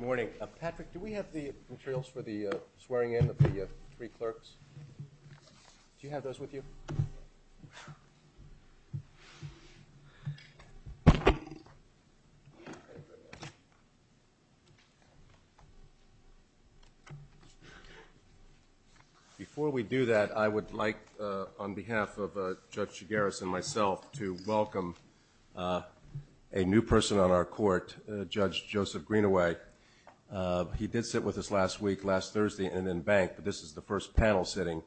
Good morning. Patrick, do we have the materials for the swearing-in of the three clerks? Do you have those with you? Before we do that, I would like, on behalf of Judge Chigaris and myself, to welcome a new person on our court, Judge Joseph Greenaway. He did sit with us last week, last Thursday, and in Bank, but this is the first panel sitting,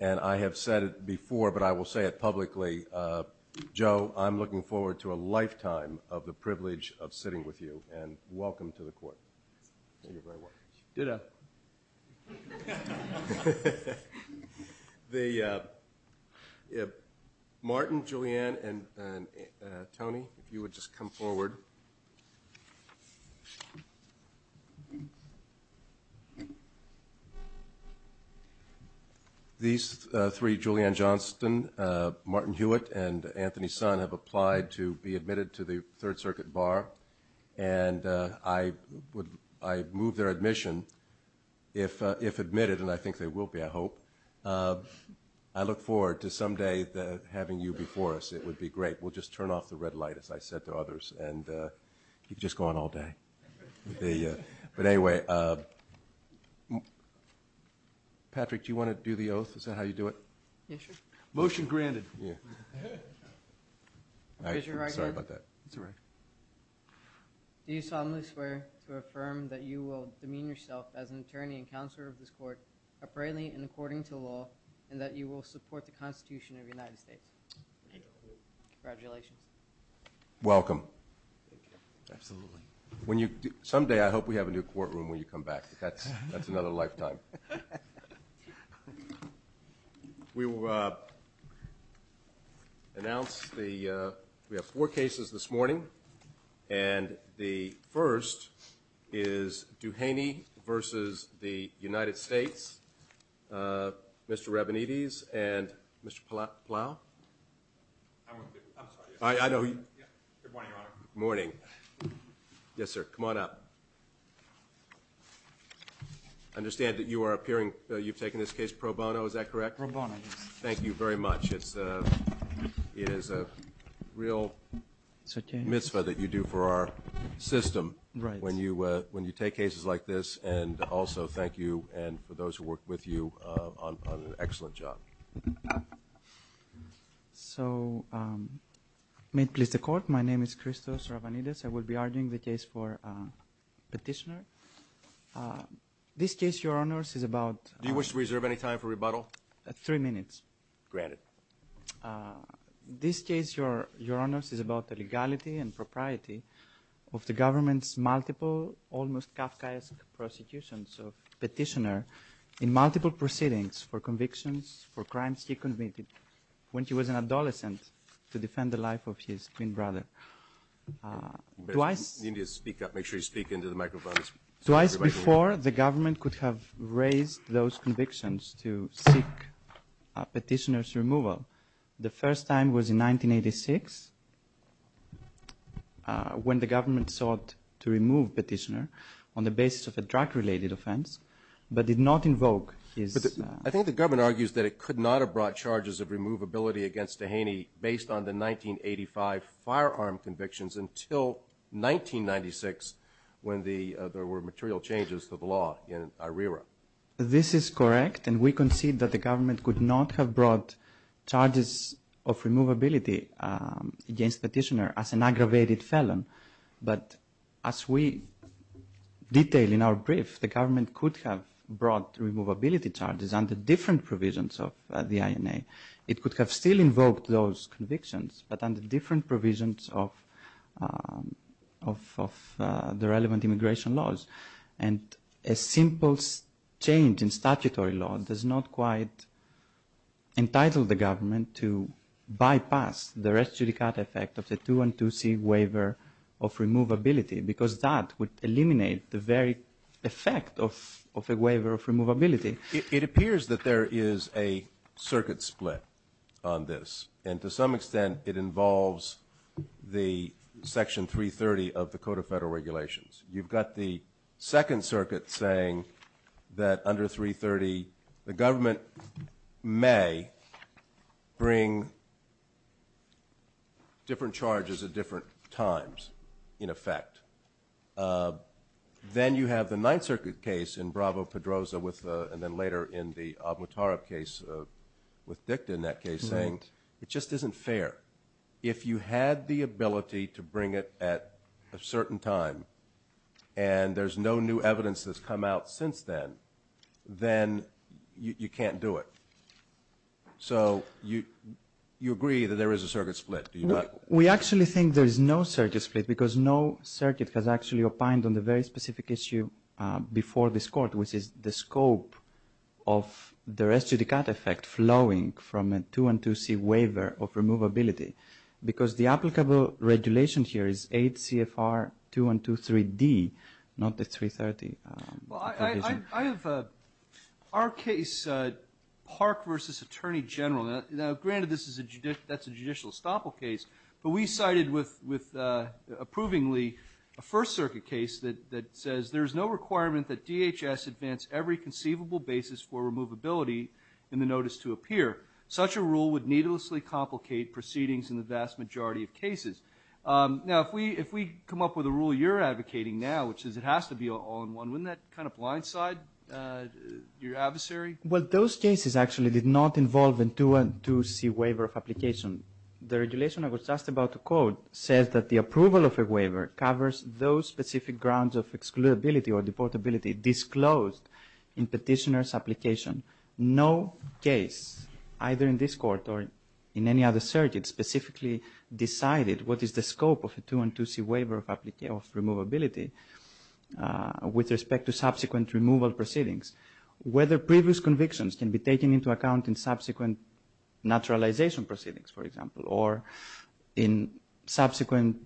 and I have said it before, but I will say it publicly. Joe, I'm looking forward to a lifetime of the privilege of sitting with you, and welcome to the court. Thank you very much. Martin, Julianne, and Tony, if you would just come forward. These three, Julianne Johnston, Martin Hewitt, and Anthony Sun, have applied to be admitted to the Third Circuit Bar, and I move their admission, if admitted, and I think they will be, I hope. I look forward to someday having you before us. It would be great. We'll just turn off the red light, as I said to others, and you can just go on all day. But anyway, Patrick, do you want to do the oath? Is that how you do it? Yes, sir. Motion granted. Sorry about that. Do you solemnly swear to affirm that you will demean yourself as an attorney and counselor of this court, apparently and according to law, and that you will support the Constitution of the United States? I do. Congratulations. Welcome. Thank you. Absolutely. Someday, I hope we have a new courtroom when you come back. That's another lifetime. We will announce the, we have four cases this morning, and the first is Duhaney versus the United States, Mr. Rabinides and Mr. Plow. I'm sorry. I know. Good morning, Your Honor. Good morning. Yes, sir. Come on up. I understand that you are appearing, you've taken this case pro bono, is that correct? Pro bono, yes. Thank you very much. It is a real mitzvah that you do for our system when you take cases like this, and also thank you and for those who work with you on an excellent job. So may it please the Court, my name is Christos Rabinides. I will be arguing the case for petitioner. This case, Your Honors, is about- Do you wish to reserve any time for rebuttal? Three minutes. Granted. This case, Your Honors, is about the legality and propriety of the government's multiple, almost Kafkaesque prosecutions of petitioner in multiple proceedings for convictions for crimes he committed when he was an adolescent to defend the life of his twin brother. You need to speak up. Make sure you speak into the microphones. Twice before, the government could have raised those convictions to seek petitioner's removal. The first time was in 1986 when the government sought to remove petitioner on the basis of a drug-related offense, but did not invoke his- I think the government argues that it could not have brought charges of removability against Dehaney based on the 1985 firearm convictions until 1996 when there were material changes to the law in IRERA. This is correct, and we concede that the government could not have brought charges of removability against the petitioner as an aggravated felon, but as we detail in our brief, the government could have brought removability charges under different provisions of the INA. It could have still invoked those convictions, but under different provisions of the relevant immigration laws, and a simple change in statutory law does not quite entitle the government to bypass the res judicata effect of the 212C waiver of removability because that would eliminate the very effect of a waiver of removability. It appears that there is a circuit split on this, and to some extent it involves the Section 330 of the Code of Federal Regulations. You've got the Second Circuit saying that under 330, the government may bring different charges at different times, in effect. Then you have the Ninth Circuit case in Bravo-Pedroza, and then later in the Avnotarov case with Dicta in that case, saying it just isn't fair. If you had the ability to bring it at a certain time, and there's no new evidence that's come out since then, then you can't do it. So you agree that there is a circuit split, do you not? We actually think there is no circuit split because no circuit has actually opined on the very specific issue before this Court, which is the scope of the res judicata effect flowing from a 212C waiver of removability, because the applicable regulation here is 8 CFR 2123D, not the 330 provision. Our case, Park v. Attorney General, granted that's a judicial estoppel case, but we cited with approvingly a First Circuit case that says, there's no requirement that DHS advance every conceivable basis for removability in the notice to appear. Such a rule would needlessly complicate proceedings in the vast majority of cases. Now, if we come up with a rule you're advocating now, which is it has to be an all-in-one, wouldn't that kind of blindside your adversary? Well, those cases actually did not involve a 212C waiver of application. The regulation I was just about to quote says that the approval of a waiver covers those specific grounds of excludability or deportability disclosed in petitioner's application. No case, either in this Court or in any other circuit, specifically decided what is the scope of a 212C waiver of removability with respect to subsequent removal proceedings. Whether previous convictions can be taken into account in subsequent naturalization proceedings, for example, or in subsequent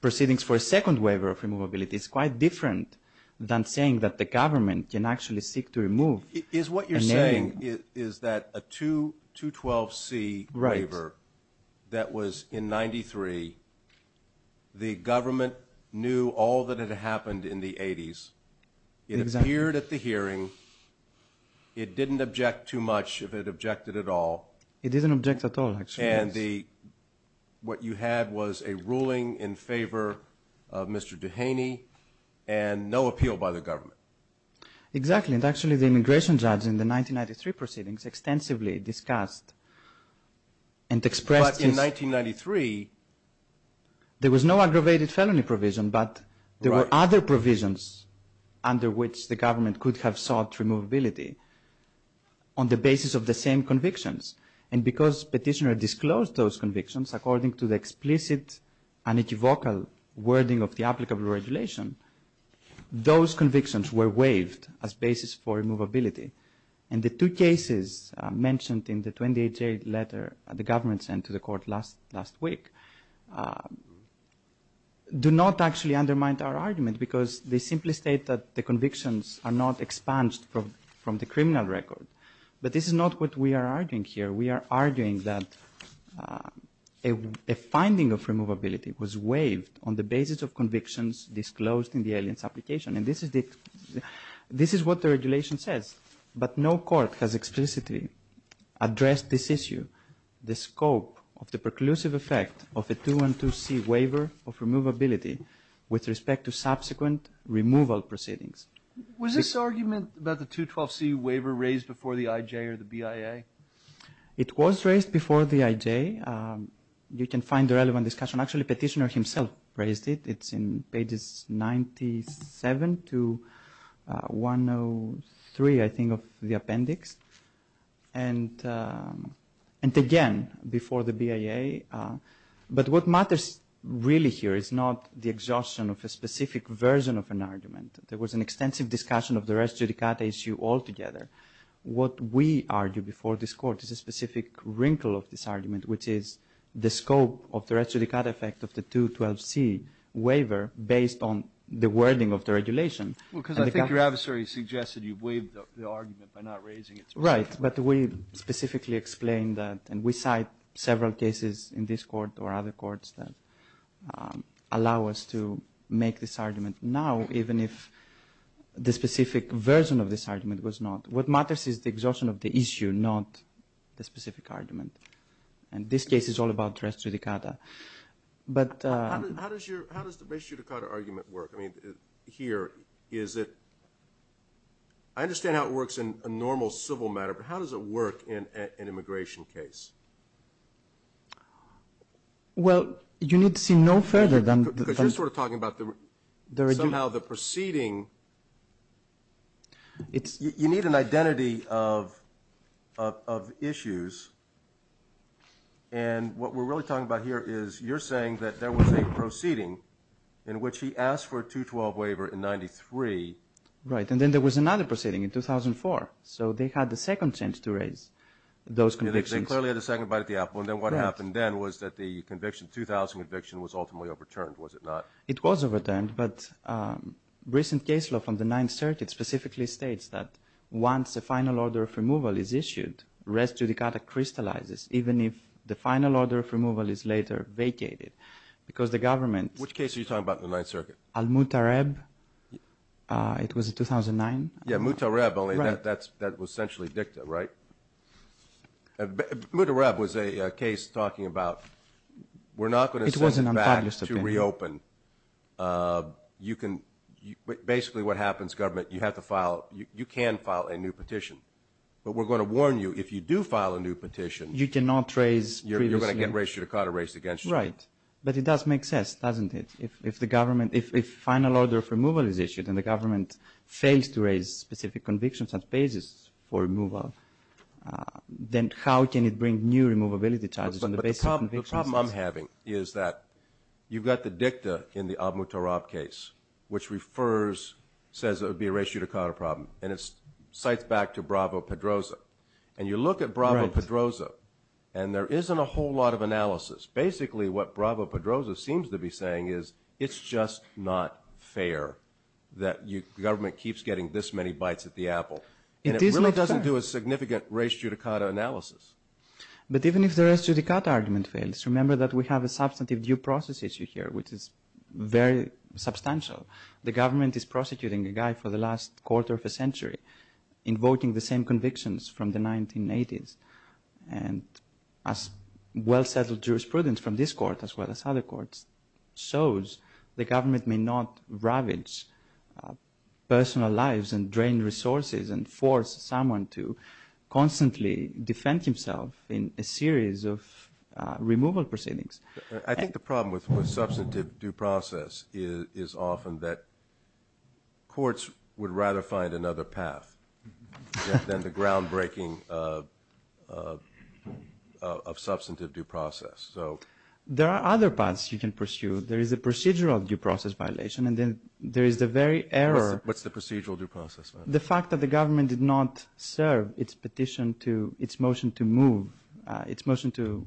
proceedings for a second waiver of removability, is quite different than saying that the government can actually seek to remove. Is what you're saying is that a 212C waiver that was in 93, the government knew all that had happened in the 80s, it appeared at the hearing, it didn't object too much if it objected at all. It didn't object at all, actually, yes. And what you had was a ruling in favor of Mr. Dehaney and no appeal by the government. Exactly, and actually the immigration judge in the 1993 proceedings extensively discussed and expressed his... under which the government could have sought removability on the basis of the same convictions. And because petitioner disclosed those convictions according to the explicit, unequivocal wording of the applicable regulation, those convictions were waived as basis for removability. And the two cases mentioned in the 28-J letter the government sent to the Court last week do not actually undermine our argument because they simply state that the convictions are not expunged from the criminal record. But this is not what we are arguing here. We are arguing that a finding of removability was waived on the basis of convictions disclosed in the alien's application. And this is what the regulation says. But no court has explicitly addressed this issue, the scope of the preclusive effect of a 212C waiver of removability with respect to subsequent removal proceedings. Was this argument about the 212C waiver raised before the IJ or the BIA? It was raised before the IJ. You can find the relevant discussion. Actually, petitioner himself raised it. It's in pages 97 to 103, I think, of the appendix. And again, before the BIA. But what matters really here is not the exhaustion of a specific version of an argument. There was an extensive discussion of the res judicata issue altogether. What we argue before this court is a specific wrinkle of this argument, which is the scope of the res judicata effect of the 212C waiver based on the wording of the regulation. Well, because I think your adversary suggested you waived the argument by not raising it. Right. But we specifically explained that. And we cite several cases in this court or other courts that allow us to make this argument. Now, even if the specific version of this argument was not, what matters is the exhaustion of the issue, not the specific argument. And this case is all about res judicata. How does the res judicata argument work? I mean, here is it – I understand how it works in a normal civil matter, but how does it work in an immigration case? Well, you need to see no further than – Because you're sort of talking about somehow the proceeding. You need an identity of issues. And what we're really talking about here is you're saying that there was a proceeding in which he asked for a 212 waiver in 93. Right, and then there was another proceeding in 2004. So they had the second chance to raise those convictions. They clearly had a second bite at the apple. And then what happened then was that the conviction, the 2000 conviction, was ultimately overturned, was it not? It was overturned, but recent case law from the Ninth Circuit specifically states that once a final order of removal is issued, res judicata crystallizes, even if the final order of removal is later vacated. Because the government – Which case are you talking about in the Ninth Circuit? Al-Mutareb. It was in 2009. Yeah, Mutareb, only that was essentially dicta, right? Mutareb was a case talking about we're not going to send it back to reopen. It was an unpublished opinion. You can – basically what happens, government, you have to file – you can file a new petition. But we're going to warn you, if you do file a new petition, you're going to get res judicata raised against you. Right, but it does make sense, doesn't it? If the government – if final order of removal is issued and the government fails to raise specific convictions and basis for removal, then how can it bring new removability charges on the basis of convictions? But the problem I'm having is that you've got the dicta in the Al-Mutareb case, which refers – says it would be a res judicata problem, and it cites back to Bravo-Pedroza. And you look at Bravo-Pedroza, and there isn't a whole lot of analysis. Basically, what Bravo-Pedroza seems to be saying is it's just not fair that you – the government keeps getting this many bites at the apple. It is not fair. And it really doesn't do a significant res judicata analysis. But even if the res judicata argument fails, remember that we have a substantive due process issue here, which is very substantial. The government is prosecuting a guy for the last quarter of a century, invoking the same convictions from the 1980s. And as well-settled jurisprudence from this court as well as other courts shows, the government may not ravage personal lives and drain resources and force someone to constantly defend himself in a series of removal proceedings. I think the problem with substantive due process is often that courts would rather find another path than the groundbreaking of substantive due process. There are other paths you can pursue. There is a procedural due process violation, and then there is the very error – What's the procedural due process violation? The fact that the government did not serve its petition to – its motion to move – its motion to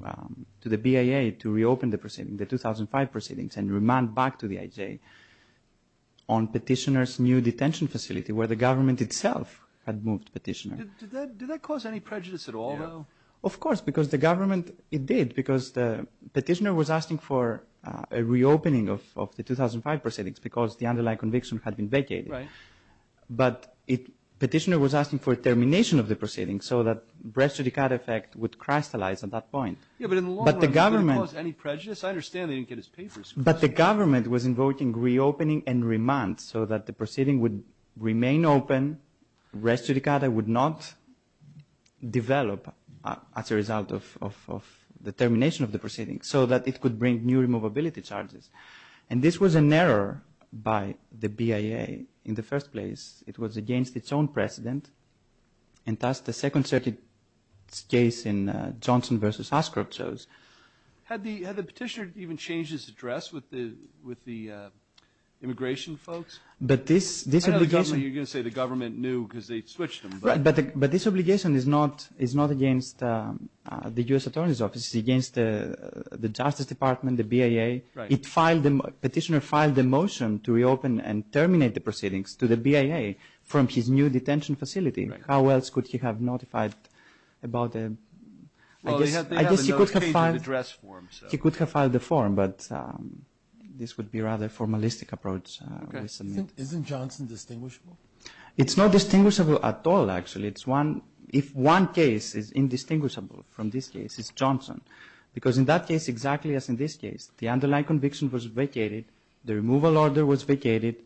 the BIA to reopen the proceeding, the 2005 proceedings, and remand back to the IJ on petitioner's new detention facility, where the government itself had moved petitioner. Did that cause any prejudice at all, though? Of course, because the government – it did. Because the petitioner was asking for a reopening of the 2005 proceedings because the underlying conviction had been vacated. Right. But petitioner was asking for termination of the proceedings so that Breast Judicata effect would crystallize at that point. Yeah, but in the long run, it didn't cause any prejudice. I understand they didn't get his papers. But the government was invoking reopening and remand so that the proceeding would remain open. Breast Judicata would not develop as a result of the termination of the proceedings so that it could bring new removability charges. And this was an error by the BIA in the first place. It was against its own precedent. And thus, the Second Circuit's case in Johnson v. Ashcroft shows. Had the petitioner even changed his address with the immigration folks? I don't think you're going to say the government knew because they switched them. Right, but this obligation is not against the U.S. Attorney's Office. It's against the Justice Department, the BIA. Petitioner filed a motion to reopen and terminate the proceedings to the BIA from his new detention facility. How else could he have notified about it? I guess he could have filed the form, but this would be a rather formalistic approach. Isn't Johnson distinguishable? It's not distinguishable at all, actually. If one case is indistinguishable from this case, it's Johnson. Because in that case, exactly as in this case, the underlying conviction was vacated, the removal order was vacated,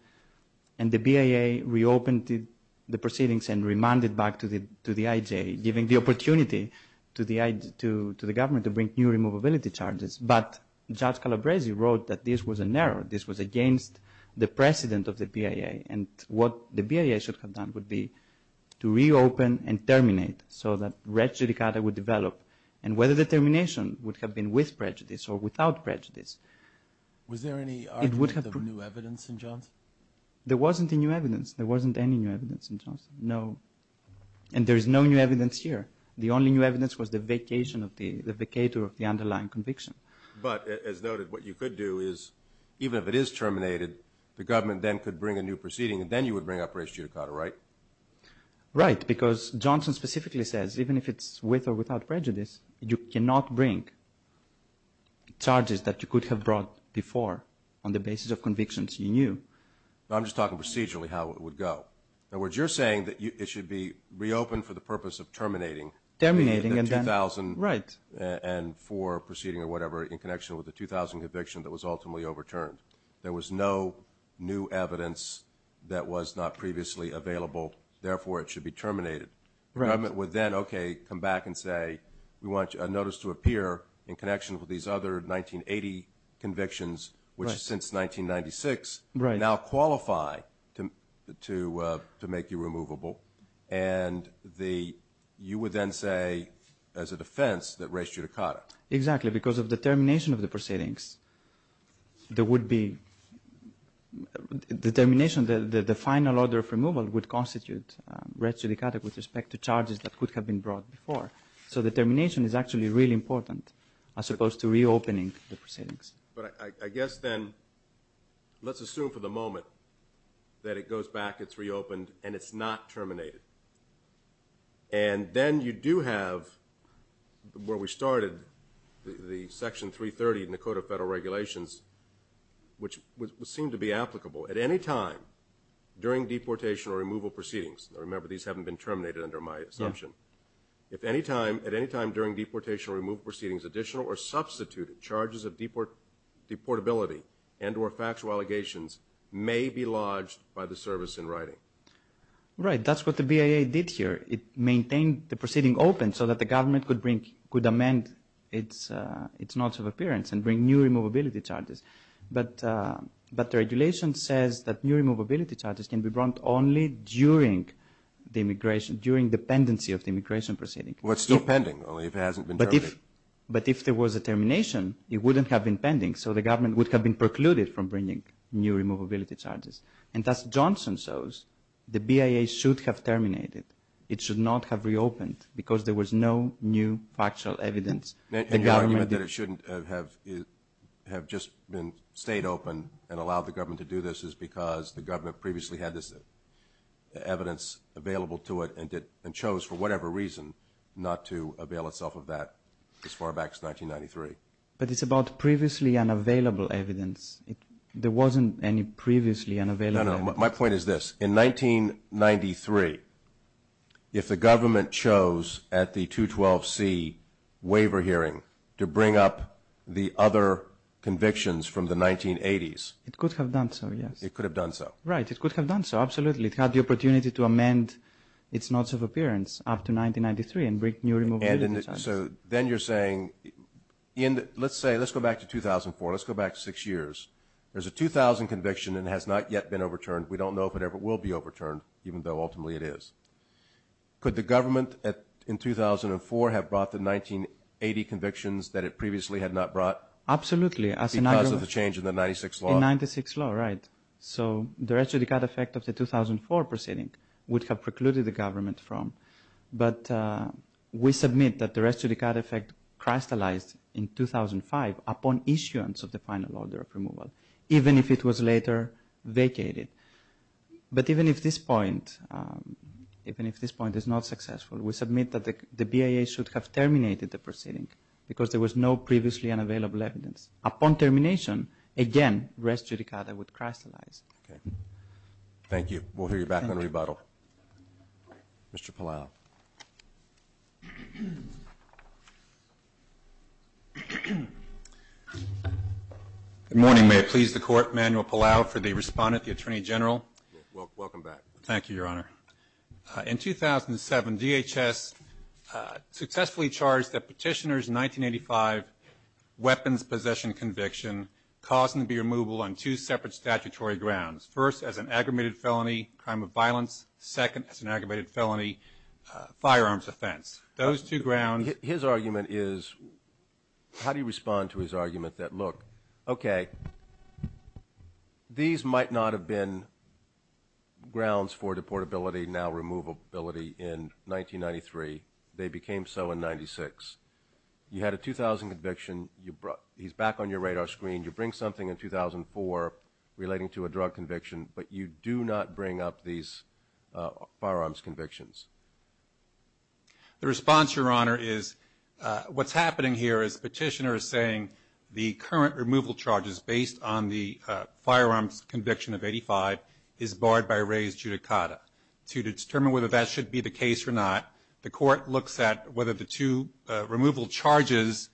and the BIA reopened the proceedings and remanded back to the IJ, giving the opportunity to the government to bring new removability charges. But Judge Calabresi wrote that this was an error. This was against the precedent of the BIA. And what the BIA should have done would be to reopen and terminate so that race judicata would develop, and whether the termination would have been with prejudice or without prejudice. Was there any argument of new evidence in Johnson? There wasn't any new evidence. There wasn't any new evidence in Johnson, no. And there is no new evidence here. The only new evidence was the vacation of the underlying conviction. But as noted, what you could do is, even if it is terminated, the government then could bring a new proceeding, and then you would bring up race judicata, right? Right, because Johnson specifically says, even if it's with or without prejudice, you cannot bring charges that you could have brought before on the basis of convictions you knew. I'm just talking procedurally how it would go. In other words, you're saying that it should be reopened for the purpose of terminating. Terminating and then, right. And for proceeding or whatever in connection with the 2000 conviction that was ultimately overturned. There was no new evidence that was not previously available. Therefore, it should be terminated. The government would then, okay, come back and say, we want a notice to appear in connection with these other 1980 convictions, which since 1996 now qualify to make you removable. And you would then say, as a defense, that race judicata. Exactly, because of the termination of the proceedings, there would be determination that the final order of removal would constitute race judicata with respect to charges that could have been brought before. So the termination is actually really important as opposed to reopening the proceedings. But I guess then let's assume for the moment that it goes back, it's reopened, and it's not terminated. And then you do have, where we started, the Section 330 in the Code of Federal Regulations, which would seem to be applicable at any time during deportation or removal proceedings. Remember, these haven't been terminated under my assumption. If at any time during deportation or removal proceedings, additional or substituted charges of deportability and or factual allegations may be lodged by the service in writing. Right, that's what the BIA did here. It maintained the proceeding open so that the government could amend its notice of appearance and bring new removability charges. But the regulation says that new removability charges can be brought only during the pendency of the immigration proceeding. Well, it's still pending, only it hasn't been terminated. But if there was a termination, it wouldn't have been pending, so the government would have been precluded from bringing new removability charges. And as Johnson shows, the BIA should have terminated. It should not have reopened because there was no new factual evidence. And your argument that it shouldn't have just stayed open and allowed the government to do this is because the government previously had this evidence available to it and chose for whatever reason not to avail itself of that as far back as 1993. But it's about previously unavailable evidence. There wasn't any previously unavailable evidence. No, no, my point is this. In 1993, if the government chose at the 212C waiver hearing to bring up the other convictions from the 1980s. It could have done so, yes. It could have done so. Right, it could have done so, absolutely. It had the opportunity to amend its notice of appearance after 1993 and bring new removability charges. So then you're saying, let's say, let's go back to 2004, let's go back six years. There's a 2000 conviction and it has not yet been overturned. We don't know if it ever will be overturned, even though ultimately it is. Could the government in 2004 have brought the 1980 convictions that it previously had not brought? Absolutely. Because of the change in the 96 law? In 96 law, right. So the rest of the cut effect of the 2004 proceeding would have precluded the government from. But we submit that the rest of the cut effect crystallized in 2005 upon issuance of the final order of removal, even if it was later vacated. But even if this point is not successful, we submit that the BIA should have terminated the proceeding because there was no previously unavailable evidence. Upon termination, again, res judicata would crystallize. Okay. Thank you. We'll hear you back on rebuttal. Thank you. Mr. Palau. Good morning. May it please the Court, Manuel Palau for the respondent, the Attorney General. Welcome back. Thank you, Your Honor. In 2007, DHS successfully charged that Petitioner's 1985 weapons possession conviction caused him to be removable on two separate statutory grounds. First, as an aggravated felony, crime of violence. Second, as an aggravated felony, firearms offense. Those two grounds. His argument is, how do you respond to his argument that, look, okay, these might not have been grounds for deportability, now removability, in 1993. They became so in 1996. You had a 2000 conviction. He's back on your radar screen. You bring something in 2004 relating to a drug conviction, but you do not bring up these firearms convictions. The response, Your Honor, is what's happening here is Petitioner is saying the current removal charges based on the firearms conviction of 1985 is barred by res judicata. To determine whether that should be the case or not, the Court looks at whether the two removal charges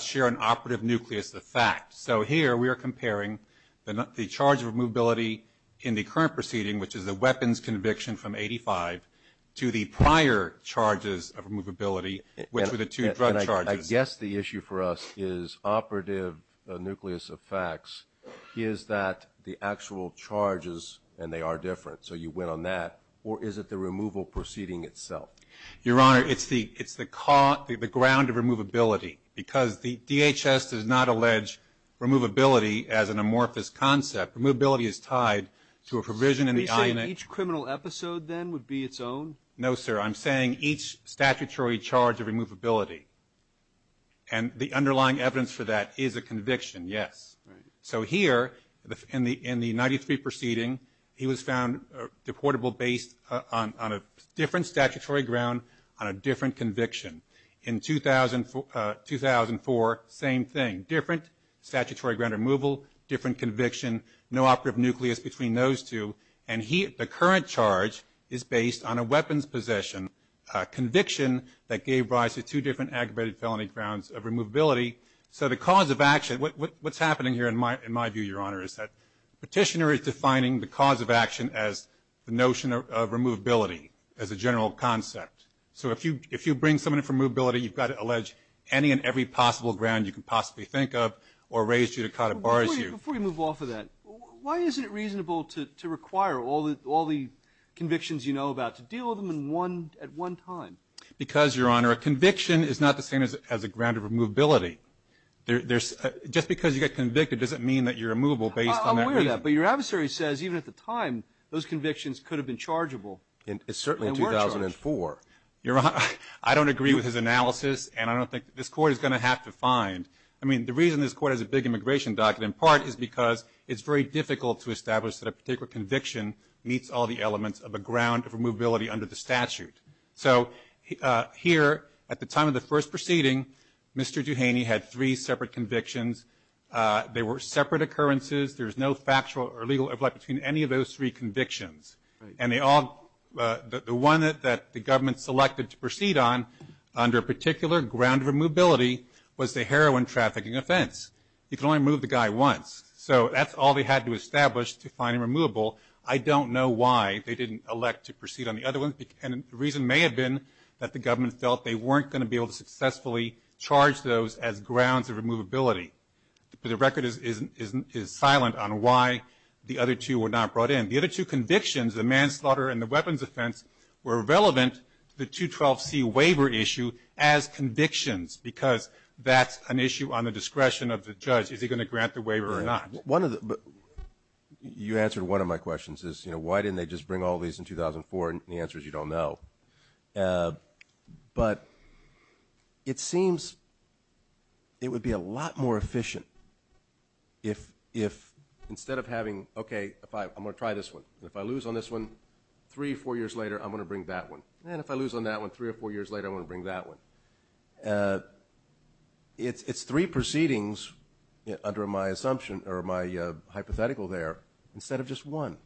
share an operative nucleus of fact. So here we are comparing the charge of removability in the current proceeding, which is the weapons conviction from 1985, to the prior charges of removability, which were the two drug charges. I guess the issue for us is operative nucleus of facts is that the actual charges, and they are different, so you went on that. Or is it the removal proceeding itself? Your Honor, it's the ground of removability. Because the DHS does not allege removability as an amorphous concept. Removability is tied to a provision in the INA. Are you saying each criminal episode then would be its own? No, sir. I'm saying each statutory charge of removability. And the underlying evidence for that is a conviction, yes. So here in the 93 proceeding, he was found deportable based on a different statutory ground on a different conviction. In 2004, same thing, different statutory ground removal, different conviction, no operative nucleus between those two. And the current charge is based on a weapons possession, a conviction that gave rise to two different aggravated felony grounds of removability. So the cause of action, what's happening here in my view, Your Honor, is that Petitioner is defining the cause of action as the notion of removability, as a general concept. So if you bring someone in for removability, you've got to allege any and every possible ground you can possibly think of or raise judicata bars you. Before you move off of that, why isn't it reasonable to require all the convictions you know about to deal with them at one time? Because, Your Honor, a conviction is not the same as a ground of removability. Just because you get convicted doesn't mean that you're removable based on that reason. I'm aware of that, but your adversary says even at the time, those convictions could have been chargeable. It's certainly in 2004. Your Honor, I don't agree with his analysis, and I don't think this Court is going to have to find. I mean, the reason this Court has a big immigration docket, in part, is because it's very difficult to establish that a particular conviction meets all the elements of a ground of removability under the statute. So here, at the time of the first proceeding, Mr. Duhaney had three separate convictions. They were separate occurrences. There's no factual or legal overlap between any of those three convictions. And the one that the government selected to proceed on under a particular ground of removability was the heroin trafficking offense. You can only remove the guy once. So that's all they had to establish to find him removable. I don't know why they didn't elect to proceed on the other one, and the reason may have been that the government felt they weren't going to be able to successfully charge those as grounds of removability. The record is silent on why the other two were not brought in. The other two convictions, the manslaughter and the weapons offense, were relevant to the 212C waiver issue as convictions, because that's an issue on the discretion of the judge. Is he going to grant the waiver or not? You answered one of my questions, is, you know, why didn't they just bring all these in 2004, and the answer is you don't know. But it seems it would be a lot more efficient if, instead of having, okay, I'm going to try this one, and if I lose on this one, three or four years later, I'm going to bring that one, and if I lose on that one, three or four years later I'm going to bring that one. It's three proceedings under my assumption or my hypothetical there instead of just one.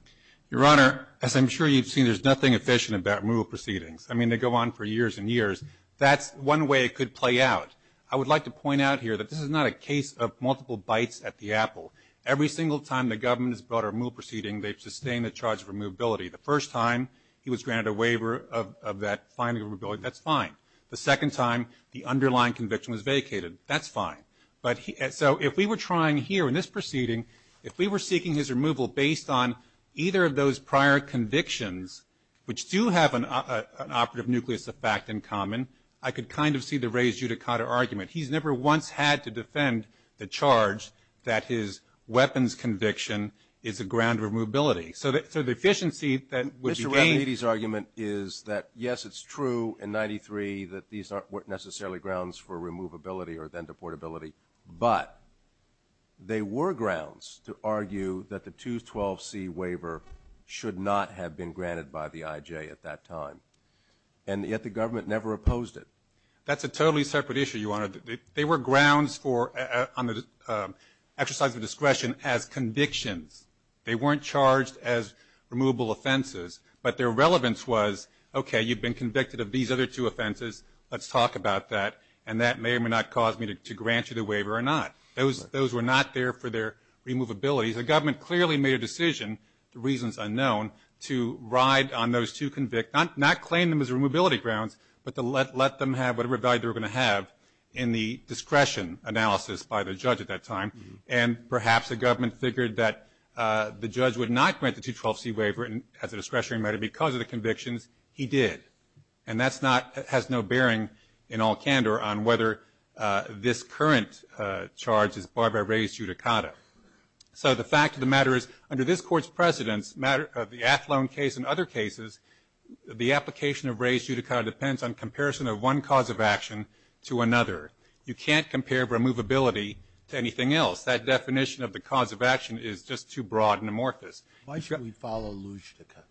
Your Honor, as I'm sure you've seen, there's nothing efficient about removal proceedings. I mean, they go on for years and years. That's one way it could play out. I would like to point out here that this is not a case of multiple bites at the apple. Every single time the government has brought a removal proceeding, they've sustained the charge of removability. The first time he was granted a waiver of that final removability, that's fine. The second time the underlying conviction was vacated, that's fine. So if we were trying here in this proceeding, if we were seeking his removal based on either of those prior convictions, which do have an operative nucleus of fact in common, I could kind of see the raised judicata argument. He's never once had to defend the charge that his weapons conviction is a ground of removability. So the efficiency that would be gained… Mr. Rattanidhi's argument is that, yes, it's true in 93 that these aren't necessarily grounds for removability or then deportability, but they were grounds to argue that the 212C waiver should not have been granted by the I.J. at that time, and yet the government never opposed it. That's a totally separate issue, Your Honor. They were grounds on the exercise of discretion as convictions. They weren't charged as removable offenses, but their relevance was, okay, you've been convicted of these other two offenses, let's talk about that, and that may or may not cause me to grant you the waiver or not. Those were not there for their removability. The government clearly made a decision, the reason is unknown, to ride on those two convicts, not claim them as removability grounds, but to let them have whatever value they were going to have in the discretion analysis by the judge at that time, and perhaps the government figured that the judge would not grant the 212C waiver as a discretionary matter because of the convictions he did, and that has no bearing in all candor on whether this current charge is barred by res judicata. So the fact of the matter is under this Court's precedence, the Athlone case and other cases, the application of res judicata depends on comparison of one cause of action to another. You can't compare removability to anything else. That definition of the cause of action is just too broad and amorphous. Roberts. Why should we follow Lushtica?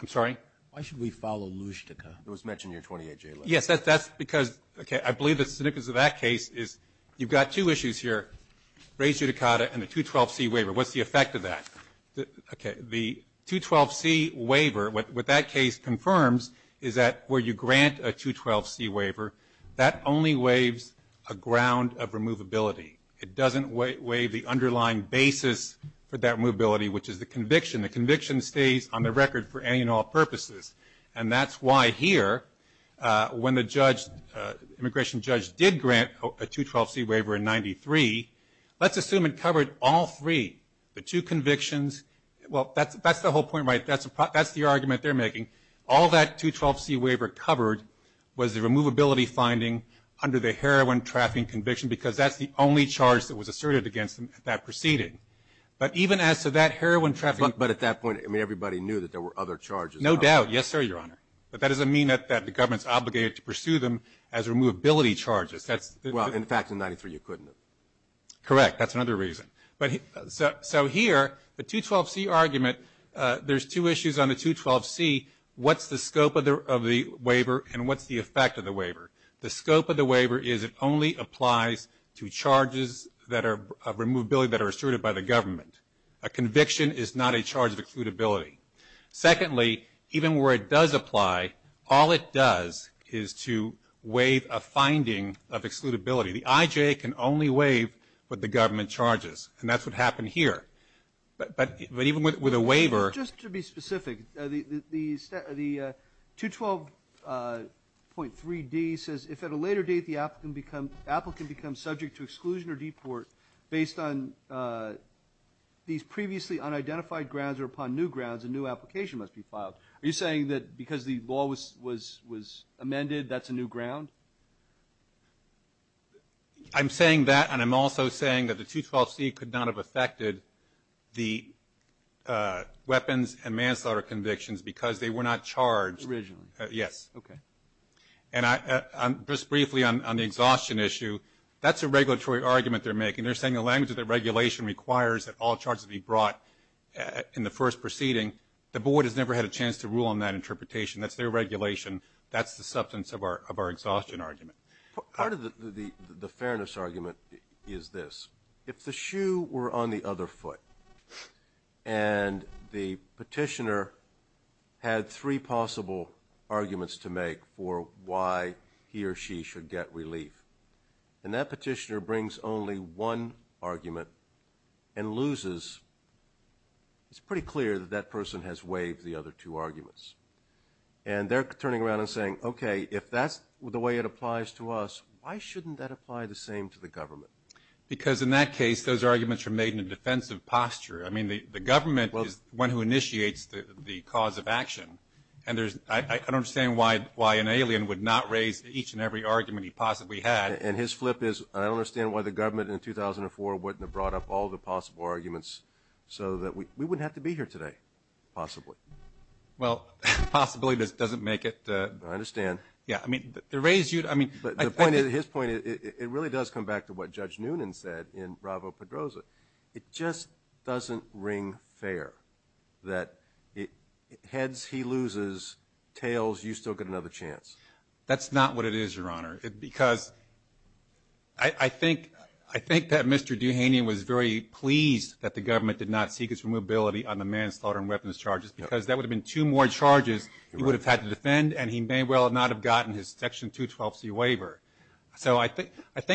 I'm sorry? Why should we follow Lushtica? It was mentioned in your 28J letter. Yes, that's because, okay, I believe the significance of that case is you've got two issues here, res judicata and the 212C waiver. What's the effect of that? The 212C waiver, what that case confirms is that where you grant a 212C waiver, that only waives a ground of removability. It doesn't waive the underlying basis for that removability, which is the conviction. The conviction stays on the record for any and all purposes, and that's why here when the immigration judge did grant a 212C waiver in 93, let's assume it covered all three, the two convictions. Well, that's the whole point, right? That's the argument they're making. All that 212C waiver covered was the removability finding under the heroin trafficking conviction because that's the only charge that was asserted against them at that proceeding. But even as to that heroin trafficking. But at that point, I mean, everybody knew that there were other charges. No doubt. Yes, sir, Your Honor. But that doesn't mean that the government's obligated to pursue them as removability charges. Well, in fact, in 93 you couldn't have. Correct. That's another reason. So here, the 212C argument, there's two issues on the 212C. What's the scope of the waiver and what's the effect of the waiver? The scope of the waiver is it only applies to charges of removability that are asserted by the government. A conviction is not a charge of excludability. Secondly, even where it does apply, all it does is to waive a finding of excludability. The IJA can only waive what the government charges, and that's what happened here. But even with a waiver. Just to be specific, the 212.3D says, if at a later date the applicant becomes subject to exclusion or deport based on these previously unidentified grounds or upon new grounds, a new application must be filed. Are you saying that because the law was amended, that's a new ground? I'm saying that, and I'm also saying that the 212C could not have affected the weapons and manslaughter convictions because they were not charged. Originally. Yes. Okay. And just briefly on the exhaustion issue, that's a regulatory argument they're making. They're saying in the language that regulation requires that all charges be brought in the first proceeding. The board has never had a chance to rule on that interpretation. That's their regulation. That's the substance of our exhaustion argument. Part of the fairness argument is this. If the shoe were on the other foot and the petitioner had three possible arguments to make for why he or she should get relief, and that petitioner brings only one argument and loses, it's pretty clear that that person has waived the other two arguments. And they're turning around and saying, okay, if that's the way it applies to us, why shouldn't that apply the same to the government? Because in that case, those arguments are made in a defensive posture. I mean, the government is one who initiates the cause of action. I don't understand why an alien would not raise each and every argument he possibly had. And his flip is, I don't understand why the government in 2004 wouldn't have brought up all the possible arguments so that we wouldn't have to be here today, possibly. Well, possibly doesn't make it. I understand. Yeah, I mean, to raise you to, I mean. His point, it really does come back to what Judge Noonan said in Bravo-Pedroza. It just doesn't ring fair that heads he loses, tails you still get another chance. That's not what it is, Your Honor, because I think that Mr. Duhaney was very pleased that the government did not seek his remobility on the manslaughter and weapons charges because that would have been two more charges he would have had to defend, and he may well not have gotten his Section 212C waiver. So I think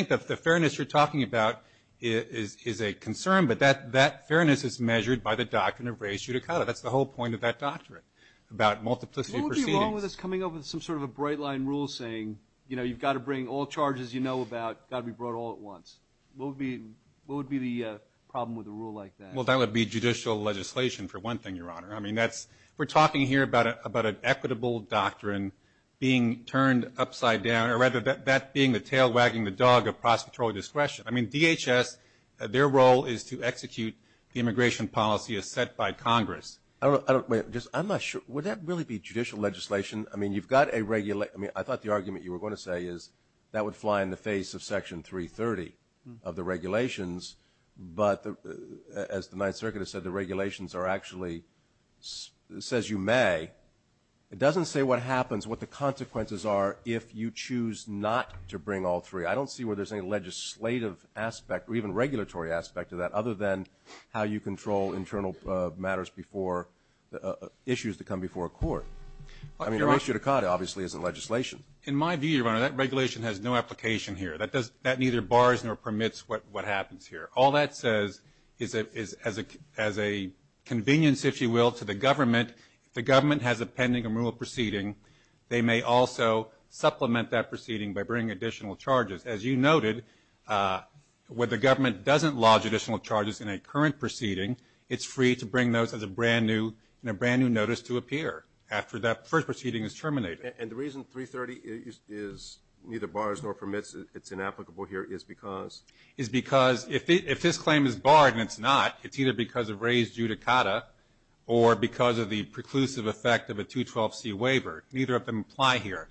the fairness you're talking about is a concern, but that fairness is measured by the doctrine of res judicata. That's the whole point of that doctrine about multiplicity proceedings. What would be wrong with us coming up with some sort of a bright-line rule saying, you know, you've got to bring all charges you know about, got to be brought all at once? What would be the problem with a rule like that? Well, that would be judicial legislation, for one thing, Your Honor. I mean, that's, we're talking here about an equitable doctrine being turned upside down, Your Honor, rather than that being the tail wagging the dog of prosecutorial discretion. I mean, DHS, their role is to execute the immigration policy as set by Congress. I don't know. I'm not sure. Would that really be judicial legislation? I mean, you've got a regulation. I mean, I thought the argument you were going to say is that would fly in the face of Section 330 of the regulations, but as the Ninth Circuit has said, the regulations are actually says you may. It doesn't say what happens, what the consequences are, if you choose not to bring all three. I don't see where there's any legislative aspect or even regulatory aspect to that, other than how you control internal matters before issues that come before a court. I mean, a res judicata obviously isn't legislation. In my view, Your Honor, that regulation has no application here. That neither bars nor permits what happens here. All that says is as a convenience, if you will, to the government, if the government has a pending immoral proceeding, they may also supplement that proceeding by bringing additional charges. As you noted, where the government doesn't lodge additional charges in a current proceeding, it's free to bring those as a brand new notice to appear after that first proceeding is terminated. And the reason 330 is neither bars nor permits, it's inapplicable here, is because? If this claim is barred and it's not, it's either because of res judicata or because of the preclusive effect of a 212C waiver. Neither of them apply here.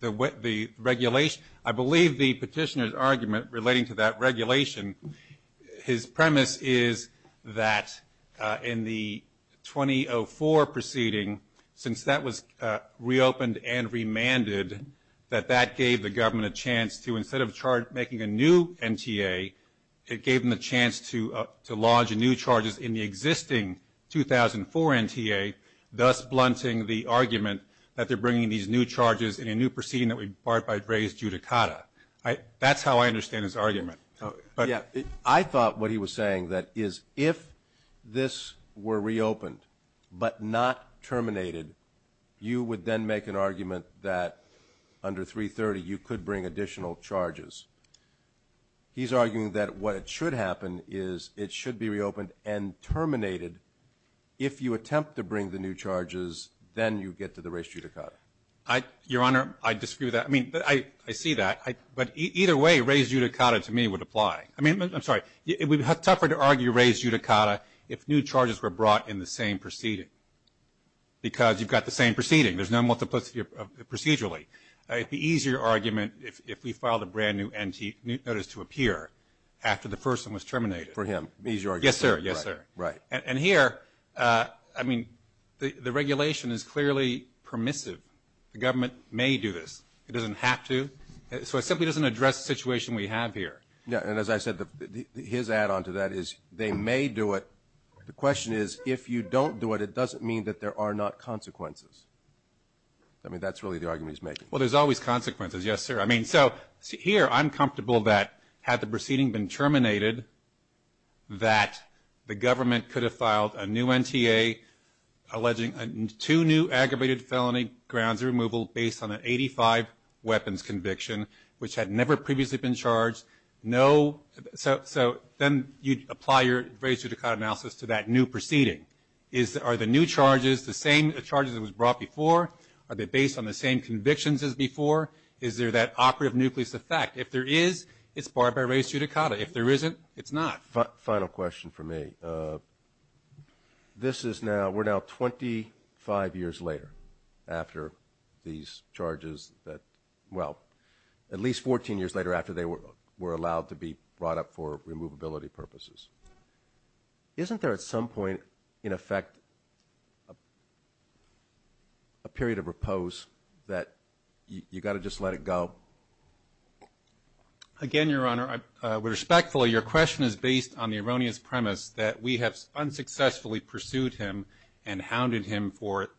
The regulation, I believe the petitioner's argument relating to that regulation, his premise is that in the 2004 proceeding, since that was reopened and remanded, that that gave the government a chance to, instead of making a new NTA, it gave them a chance to lodge new charges in the existing 2004 NTA, thus blunting the argument that they're bringing these new charges in a new proceeding that would be barred by res judicata. That's how I understand his argument. I thought what he was saying that is if this were reopened but not terminated, you would then make an argument that under 330 you could bring additional charges. He's arguing that what should happen is it should be reopened and terminated if you attempt to bring the new charges, then you get to the res judicata. Your Honor, I disagree with that. I mean, I see that, but either way, res judicata to me would apply. I mean, I'm sorry, it would be tougher to argue res judicata if new charges were brought in the same proceeding because you've got the same proceeding. There's no multiplicity procedurally. It would be an easier argument if we filed a brand-new notice to appear after the first one was terminated. For him. Yes, sir. Right. And here, I mean, the regulation is clearly permissive. The government may do this. It doesn't have to. So it simply doesn't address the situation we have here. Yeah, and as I said, his add-on to that is they may do it. The question is, if you don't do it, it doesn't mean that there are not consequences. I mean, that's really the argument he's making. Well, there's always consequences, yes, sir. I mean, so here I'm comfortable that had the proceeding been terminated, that the government could have filed a new NTA alleging two new aggravated felony grounds of removal based on an 85 weapons conviction, which had never previously been charged. So then you'd apply your res judicata analysis to that new proceeding. Are the new charges the same charges that was brought before? Are they based on the same convictions as before? Is there that operative nucleus effect? If there is, it's barred by res judicata. If there isn't, it's not. Final question for me. This is now, we're now 25 years later after these charges that, well, at least 14 years later after they were allowed to be brought up for removability purposes. Isn't there at some point, in effect, a period of repose that you've got to just let it go? Again, Your Honor, I would respectfully, your question is based on the erroneous premise that we have unsuccessfully pursued him and hounded him for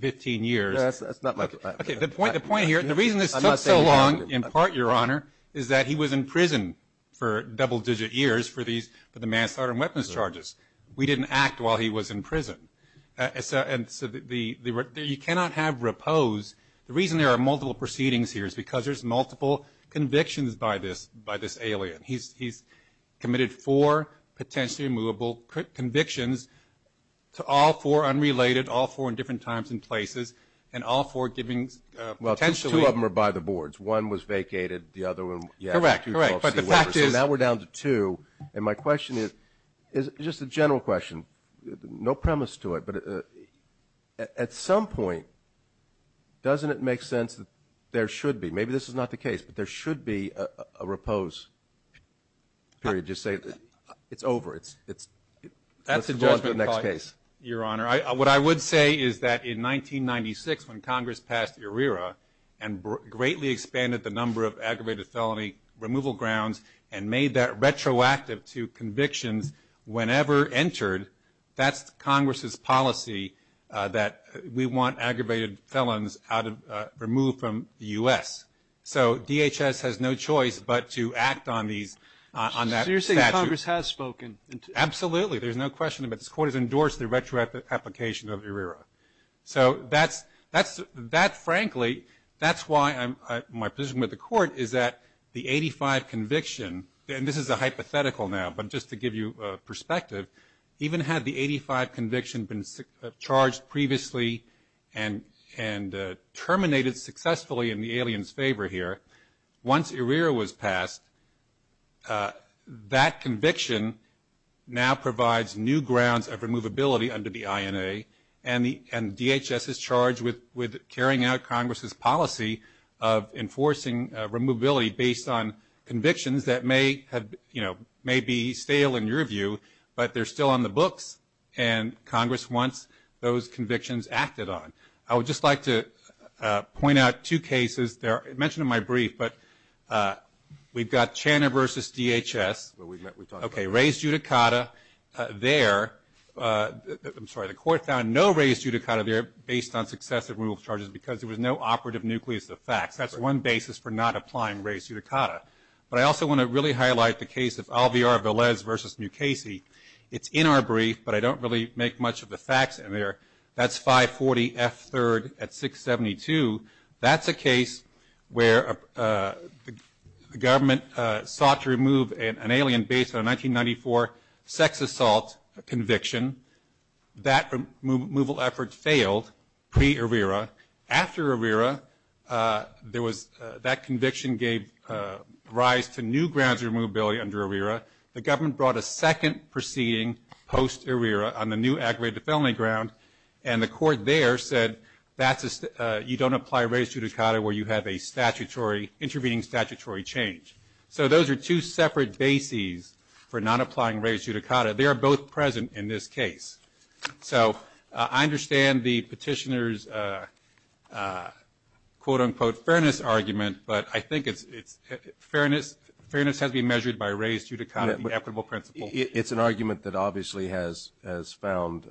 15 years. That's not my point. Okay, the point here, the reason this took so long in part, Your Honor, is that he was in prison for double-digit years for the mass arson weapons charges. We didn't act while he was in prison. And so you cannot have repose. The reason there are multiple proceedings here is because there's multiple convictions by this alien. He's committed four potentially removable convictions to all four unrelated, all four in different times and places, and all four giving potentially. Well, two of them are by the boards. One was vacated. The other one, yes. Correct, correct. But the fact is. So now we're down to two. And my question is, just a general question, no premise to it, but at some point doesn't it make sense that there should be, maybe this is not the case, but there should be a repose period, just say it's over, let's move on to the next case. Your Honor, what I would say is that in 1996 when Congress passed ERIRA and greatly expanded the number of aggravated felony removal grounds and made that retroactive to convictions, whenever entered, that's Congress's policy that we want aggravated felons removed from the U.S. So DHS has no choice but to act on these, on that statute. So you're saying Congress has spoken? Absolutely. There's no question about it. This Court has endorsed the retroactive application of ERIRA. So that's frankly, that's why my position with the Court is that the 85 conviction, and this is a hypothetical now, but just to give you a perspective, even had the 85 conviction been charged previously and terminated successfully in the alien's favor here, once ERIRA was passed, that conviction now provides new grounds of removability under the INA, and DHS is charged with carrying out Congress's policy of enforcing removability based on convictions that may be stale in your view, but they're still on the books, and Congress wants those convictions acted on. I would just like to point out two cases. I mentioned them in my brief, but we've got Channa v. DHS. Okay, raised judicata there. I'm sorry, the Court found no raised judicata there based on successive removal charges because there was no operative nucleus of facts. That's one basis for not applying raised judicata. But I also want to really highlight the case of Alviar-Velez v. Mukasey. It's in our brief, but I don't really make much of the facts in there. That's 540 F. 3rd at 672. That's a case where the government sought to remove an alien based on a 1994 sex assault conviction. That removal effort failed pre-ERIRA. After ERIRA, that conviction gave rise to new grounds of removability under ERIRA. The government brought a second proceeding post-ERIRA on the new aggravated felony ground, and the Court there said you don't apply raised judicata where you have an intervening statutory change. So those are two separate bases for not applying raised judicata. They are both present in this case. So I understand the petitioner's quote-unquote fairness argument, but I think fairness has to be measured by raised judicata, the equitable principle. It's an argument that obviously has found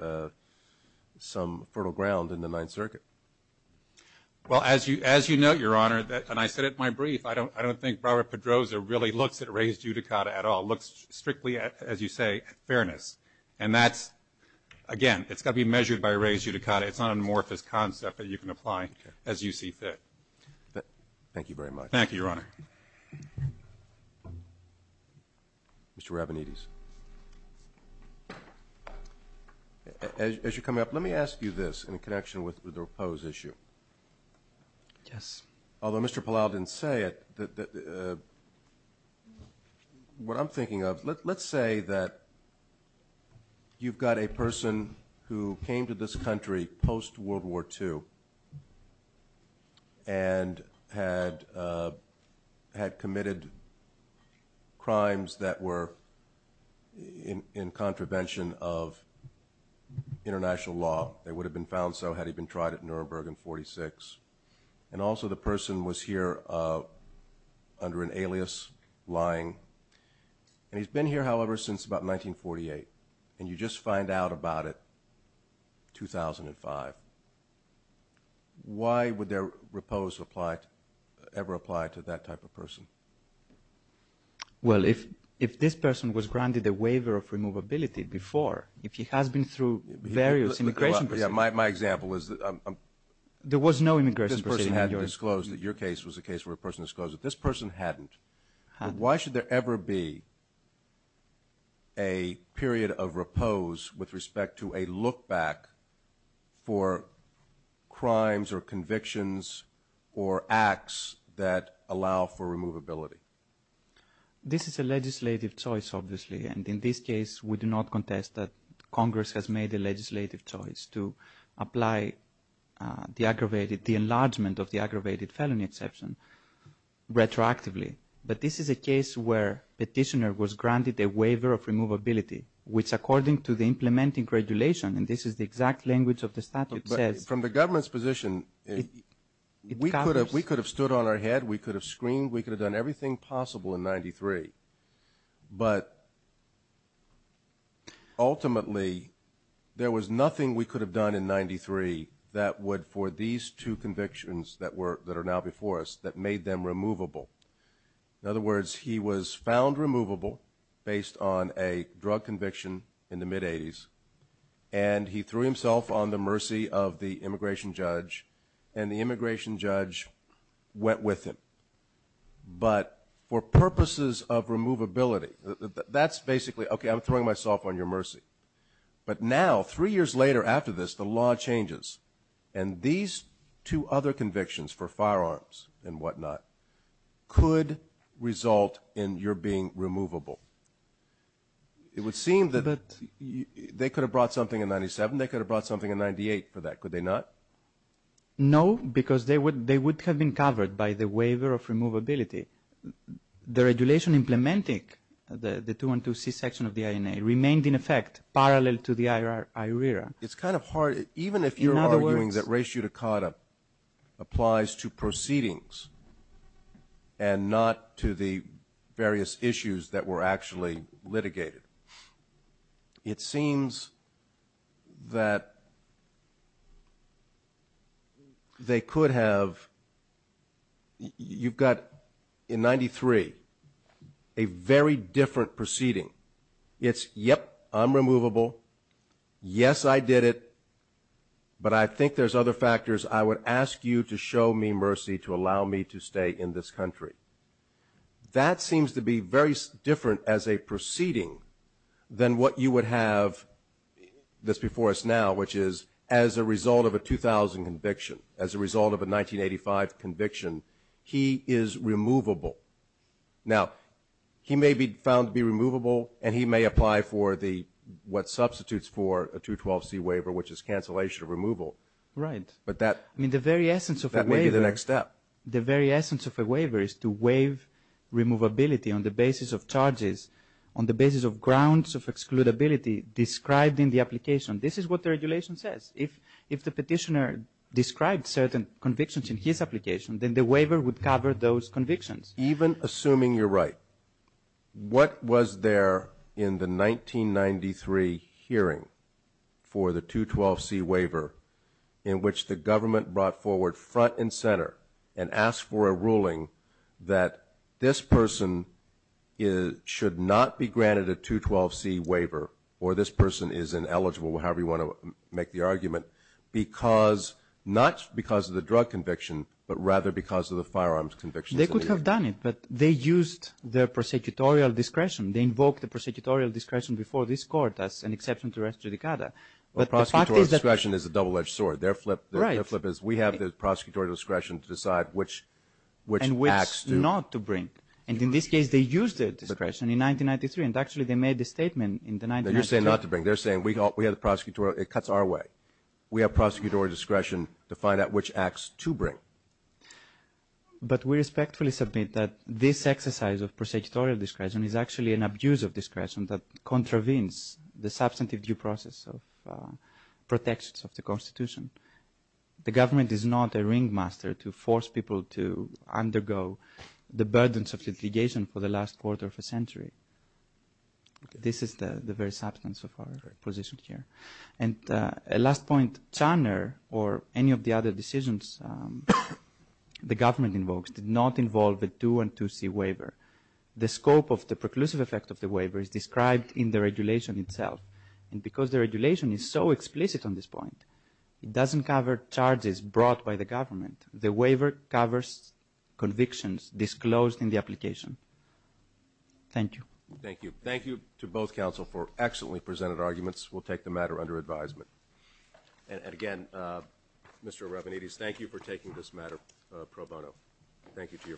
some fertile ground in the Ninth Circuit. Well, as you note, Your Honor, and I said it in my brief, I don't think Robert Pedroza really looks at raised judicata at all. He looks strictly, as you say, at fairness. And that's, again, it's got to be measured by raised judicata. It's not an amorphous concept that you can apply as you see fit. Thank you very much. Thank you, Your Honor. Mr. Rabinides. As you're coming up, let me ask you this in connection with the proposed issue. Yes. Although Mr. Palau didn't say it, what I'm thinking of, let's say that you've got a person who came to this country post-World War II and had committed crimes that were in contravention of international law. They would have been found so had he been tried at Nuremberg in 1946. And also the person was here under an alias, lying. And he's been here, however, since about 1948. And you just find out about it 2005. Why would their repose ever apply to that type of person? Well, if this person was granted a waiver of removability before, if he has been through various immigration procedures. My example is that this person had disclosed that your case was a case where a person disclosed it. This person hadn't. Why should there ever be a period of repose with respect to a look back for crimes or convictions or acts that allow for removability? This is a legislative choice, obviously. And in this case, we do not contest that Congress has made a legislative choice to apply the enlargement of the aggravated felony exception retroactively. But this is a case where a petitioner was granted a waiver of removability, which according to the implementing regulation, and this is the exact language of the statute, says. From the government's position, we could have stood on our head. We could have screened. We could have done everything possible in 1993. But ultimately, there was nothing we could have done in 1993 that would, for these two convictions that are now before us, that made them removable. In other words, he was found removable based on a drug conviction in the mid-'80s, and he threw himself on the mercy of the immigration judge, and the immigration judge went with him. But for purposes of removability, that's basically, okay, I'm throwing myself on your mercy. But now, three years later after this, the law changes, and these two other convictions for firearms and whatnot could result in your being removable. It would seem that they could have brought something in 97. They could have brought something in 98 for that. Could they not? No, because they would have been covered by the waiver of removability. The regulation implementing the 212C section of the INA remained in effect parallel to the IRERA. It's kind of hard. Even if you're arguing that res judicata applies to proceedings and not to the various issues that were actually litigated, it seems that they could have. You've got in 93 a very different proceeding. It's, yep, I'm removable. Yes, I did it, but I think there's other factors. I would ask you to show me mercy to allow me to stay in this country. That seems to be very different as a proceeding than what you would have that's before us now, which is as a result of a 2000 conviction, as a result of a 1985 conviction, he is removable. Now, he may be found to be removable, and he may apply for what substitutes for a 212C waiver, which is cancellation of removal. Right. But that may be the next step. The very essence of a waiver is to waive removability on the basis of charges, on the basis of grounds of excludability described in the application. This is what the regulation says. If the petitioner described certain convictions in his application, then the waiver would cover those convictions. Even assuming you're right, what was there in the 1993 hearing for the 212C waiver in which the government brought forward front and center and asked for a ruling that this person should not be granted a 212C waiver, or this person is ineligible, however you want to make the argument, not because of the drug conviction, but rather because of the firearms conviction. They could have done it, but they used their prosecutorial discretion. They invoked the prosecutorial discretion before this court as an exception to res judicata. Prosecutorial discretion is a double-edged sword. Their flip is we have the prosecutorial discretion to decide which acts to bring. And which not to bring. In this case, they used their discretion in 1993, and actually they made the statement in 1993. You're saying not to bring. They're saying we have the prosecutorial discretion. It cuts our way. We have prosecutorial discretion to find out which acts to bring. But we respectfully submit that this exercise of prosecutorial discretion is actually an abuse of discretion that contravenes the substantive due process of protections of the Constitution. The government is not a ringmaster to force people to undergo the burdens of litigation for the last quarter of a century. This is the very substance of our position here. And a last point. Channer or any of the other decisions the government invokes did not involve a 212C waiver. The scope of the preclusive effect of the waiver is described in the regulation itself. And because the regulation is so explicit on this point, it doesn't cover charges brought by the government. The waiver covers convictions disclosed in the application. Thank you. Thank you. Thank you to both counsel for excellently presented arguments. We'll take the matter under advisement. And, again, Mr. Rabinidis, thank you for taking this matter pro bono. Thank you to your firm.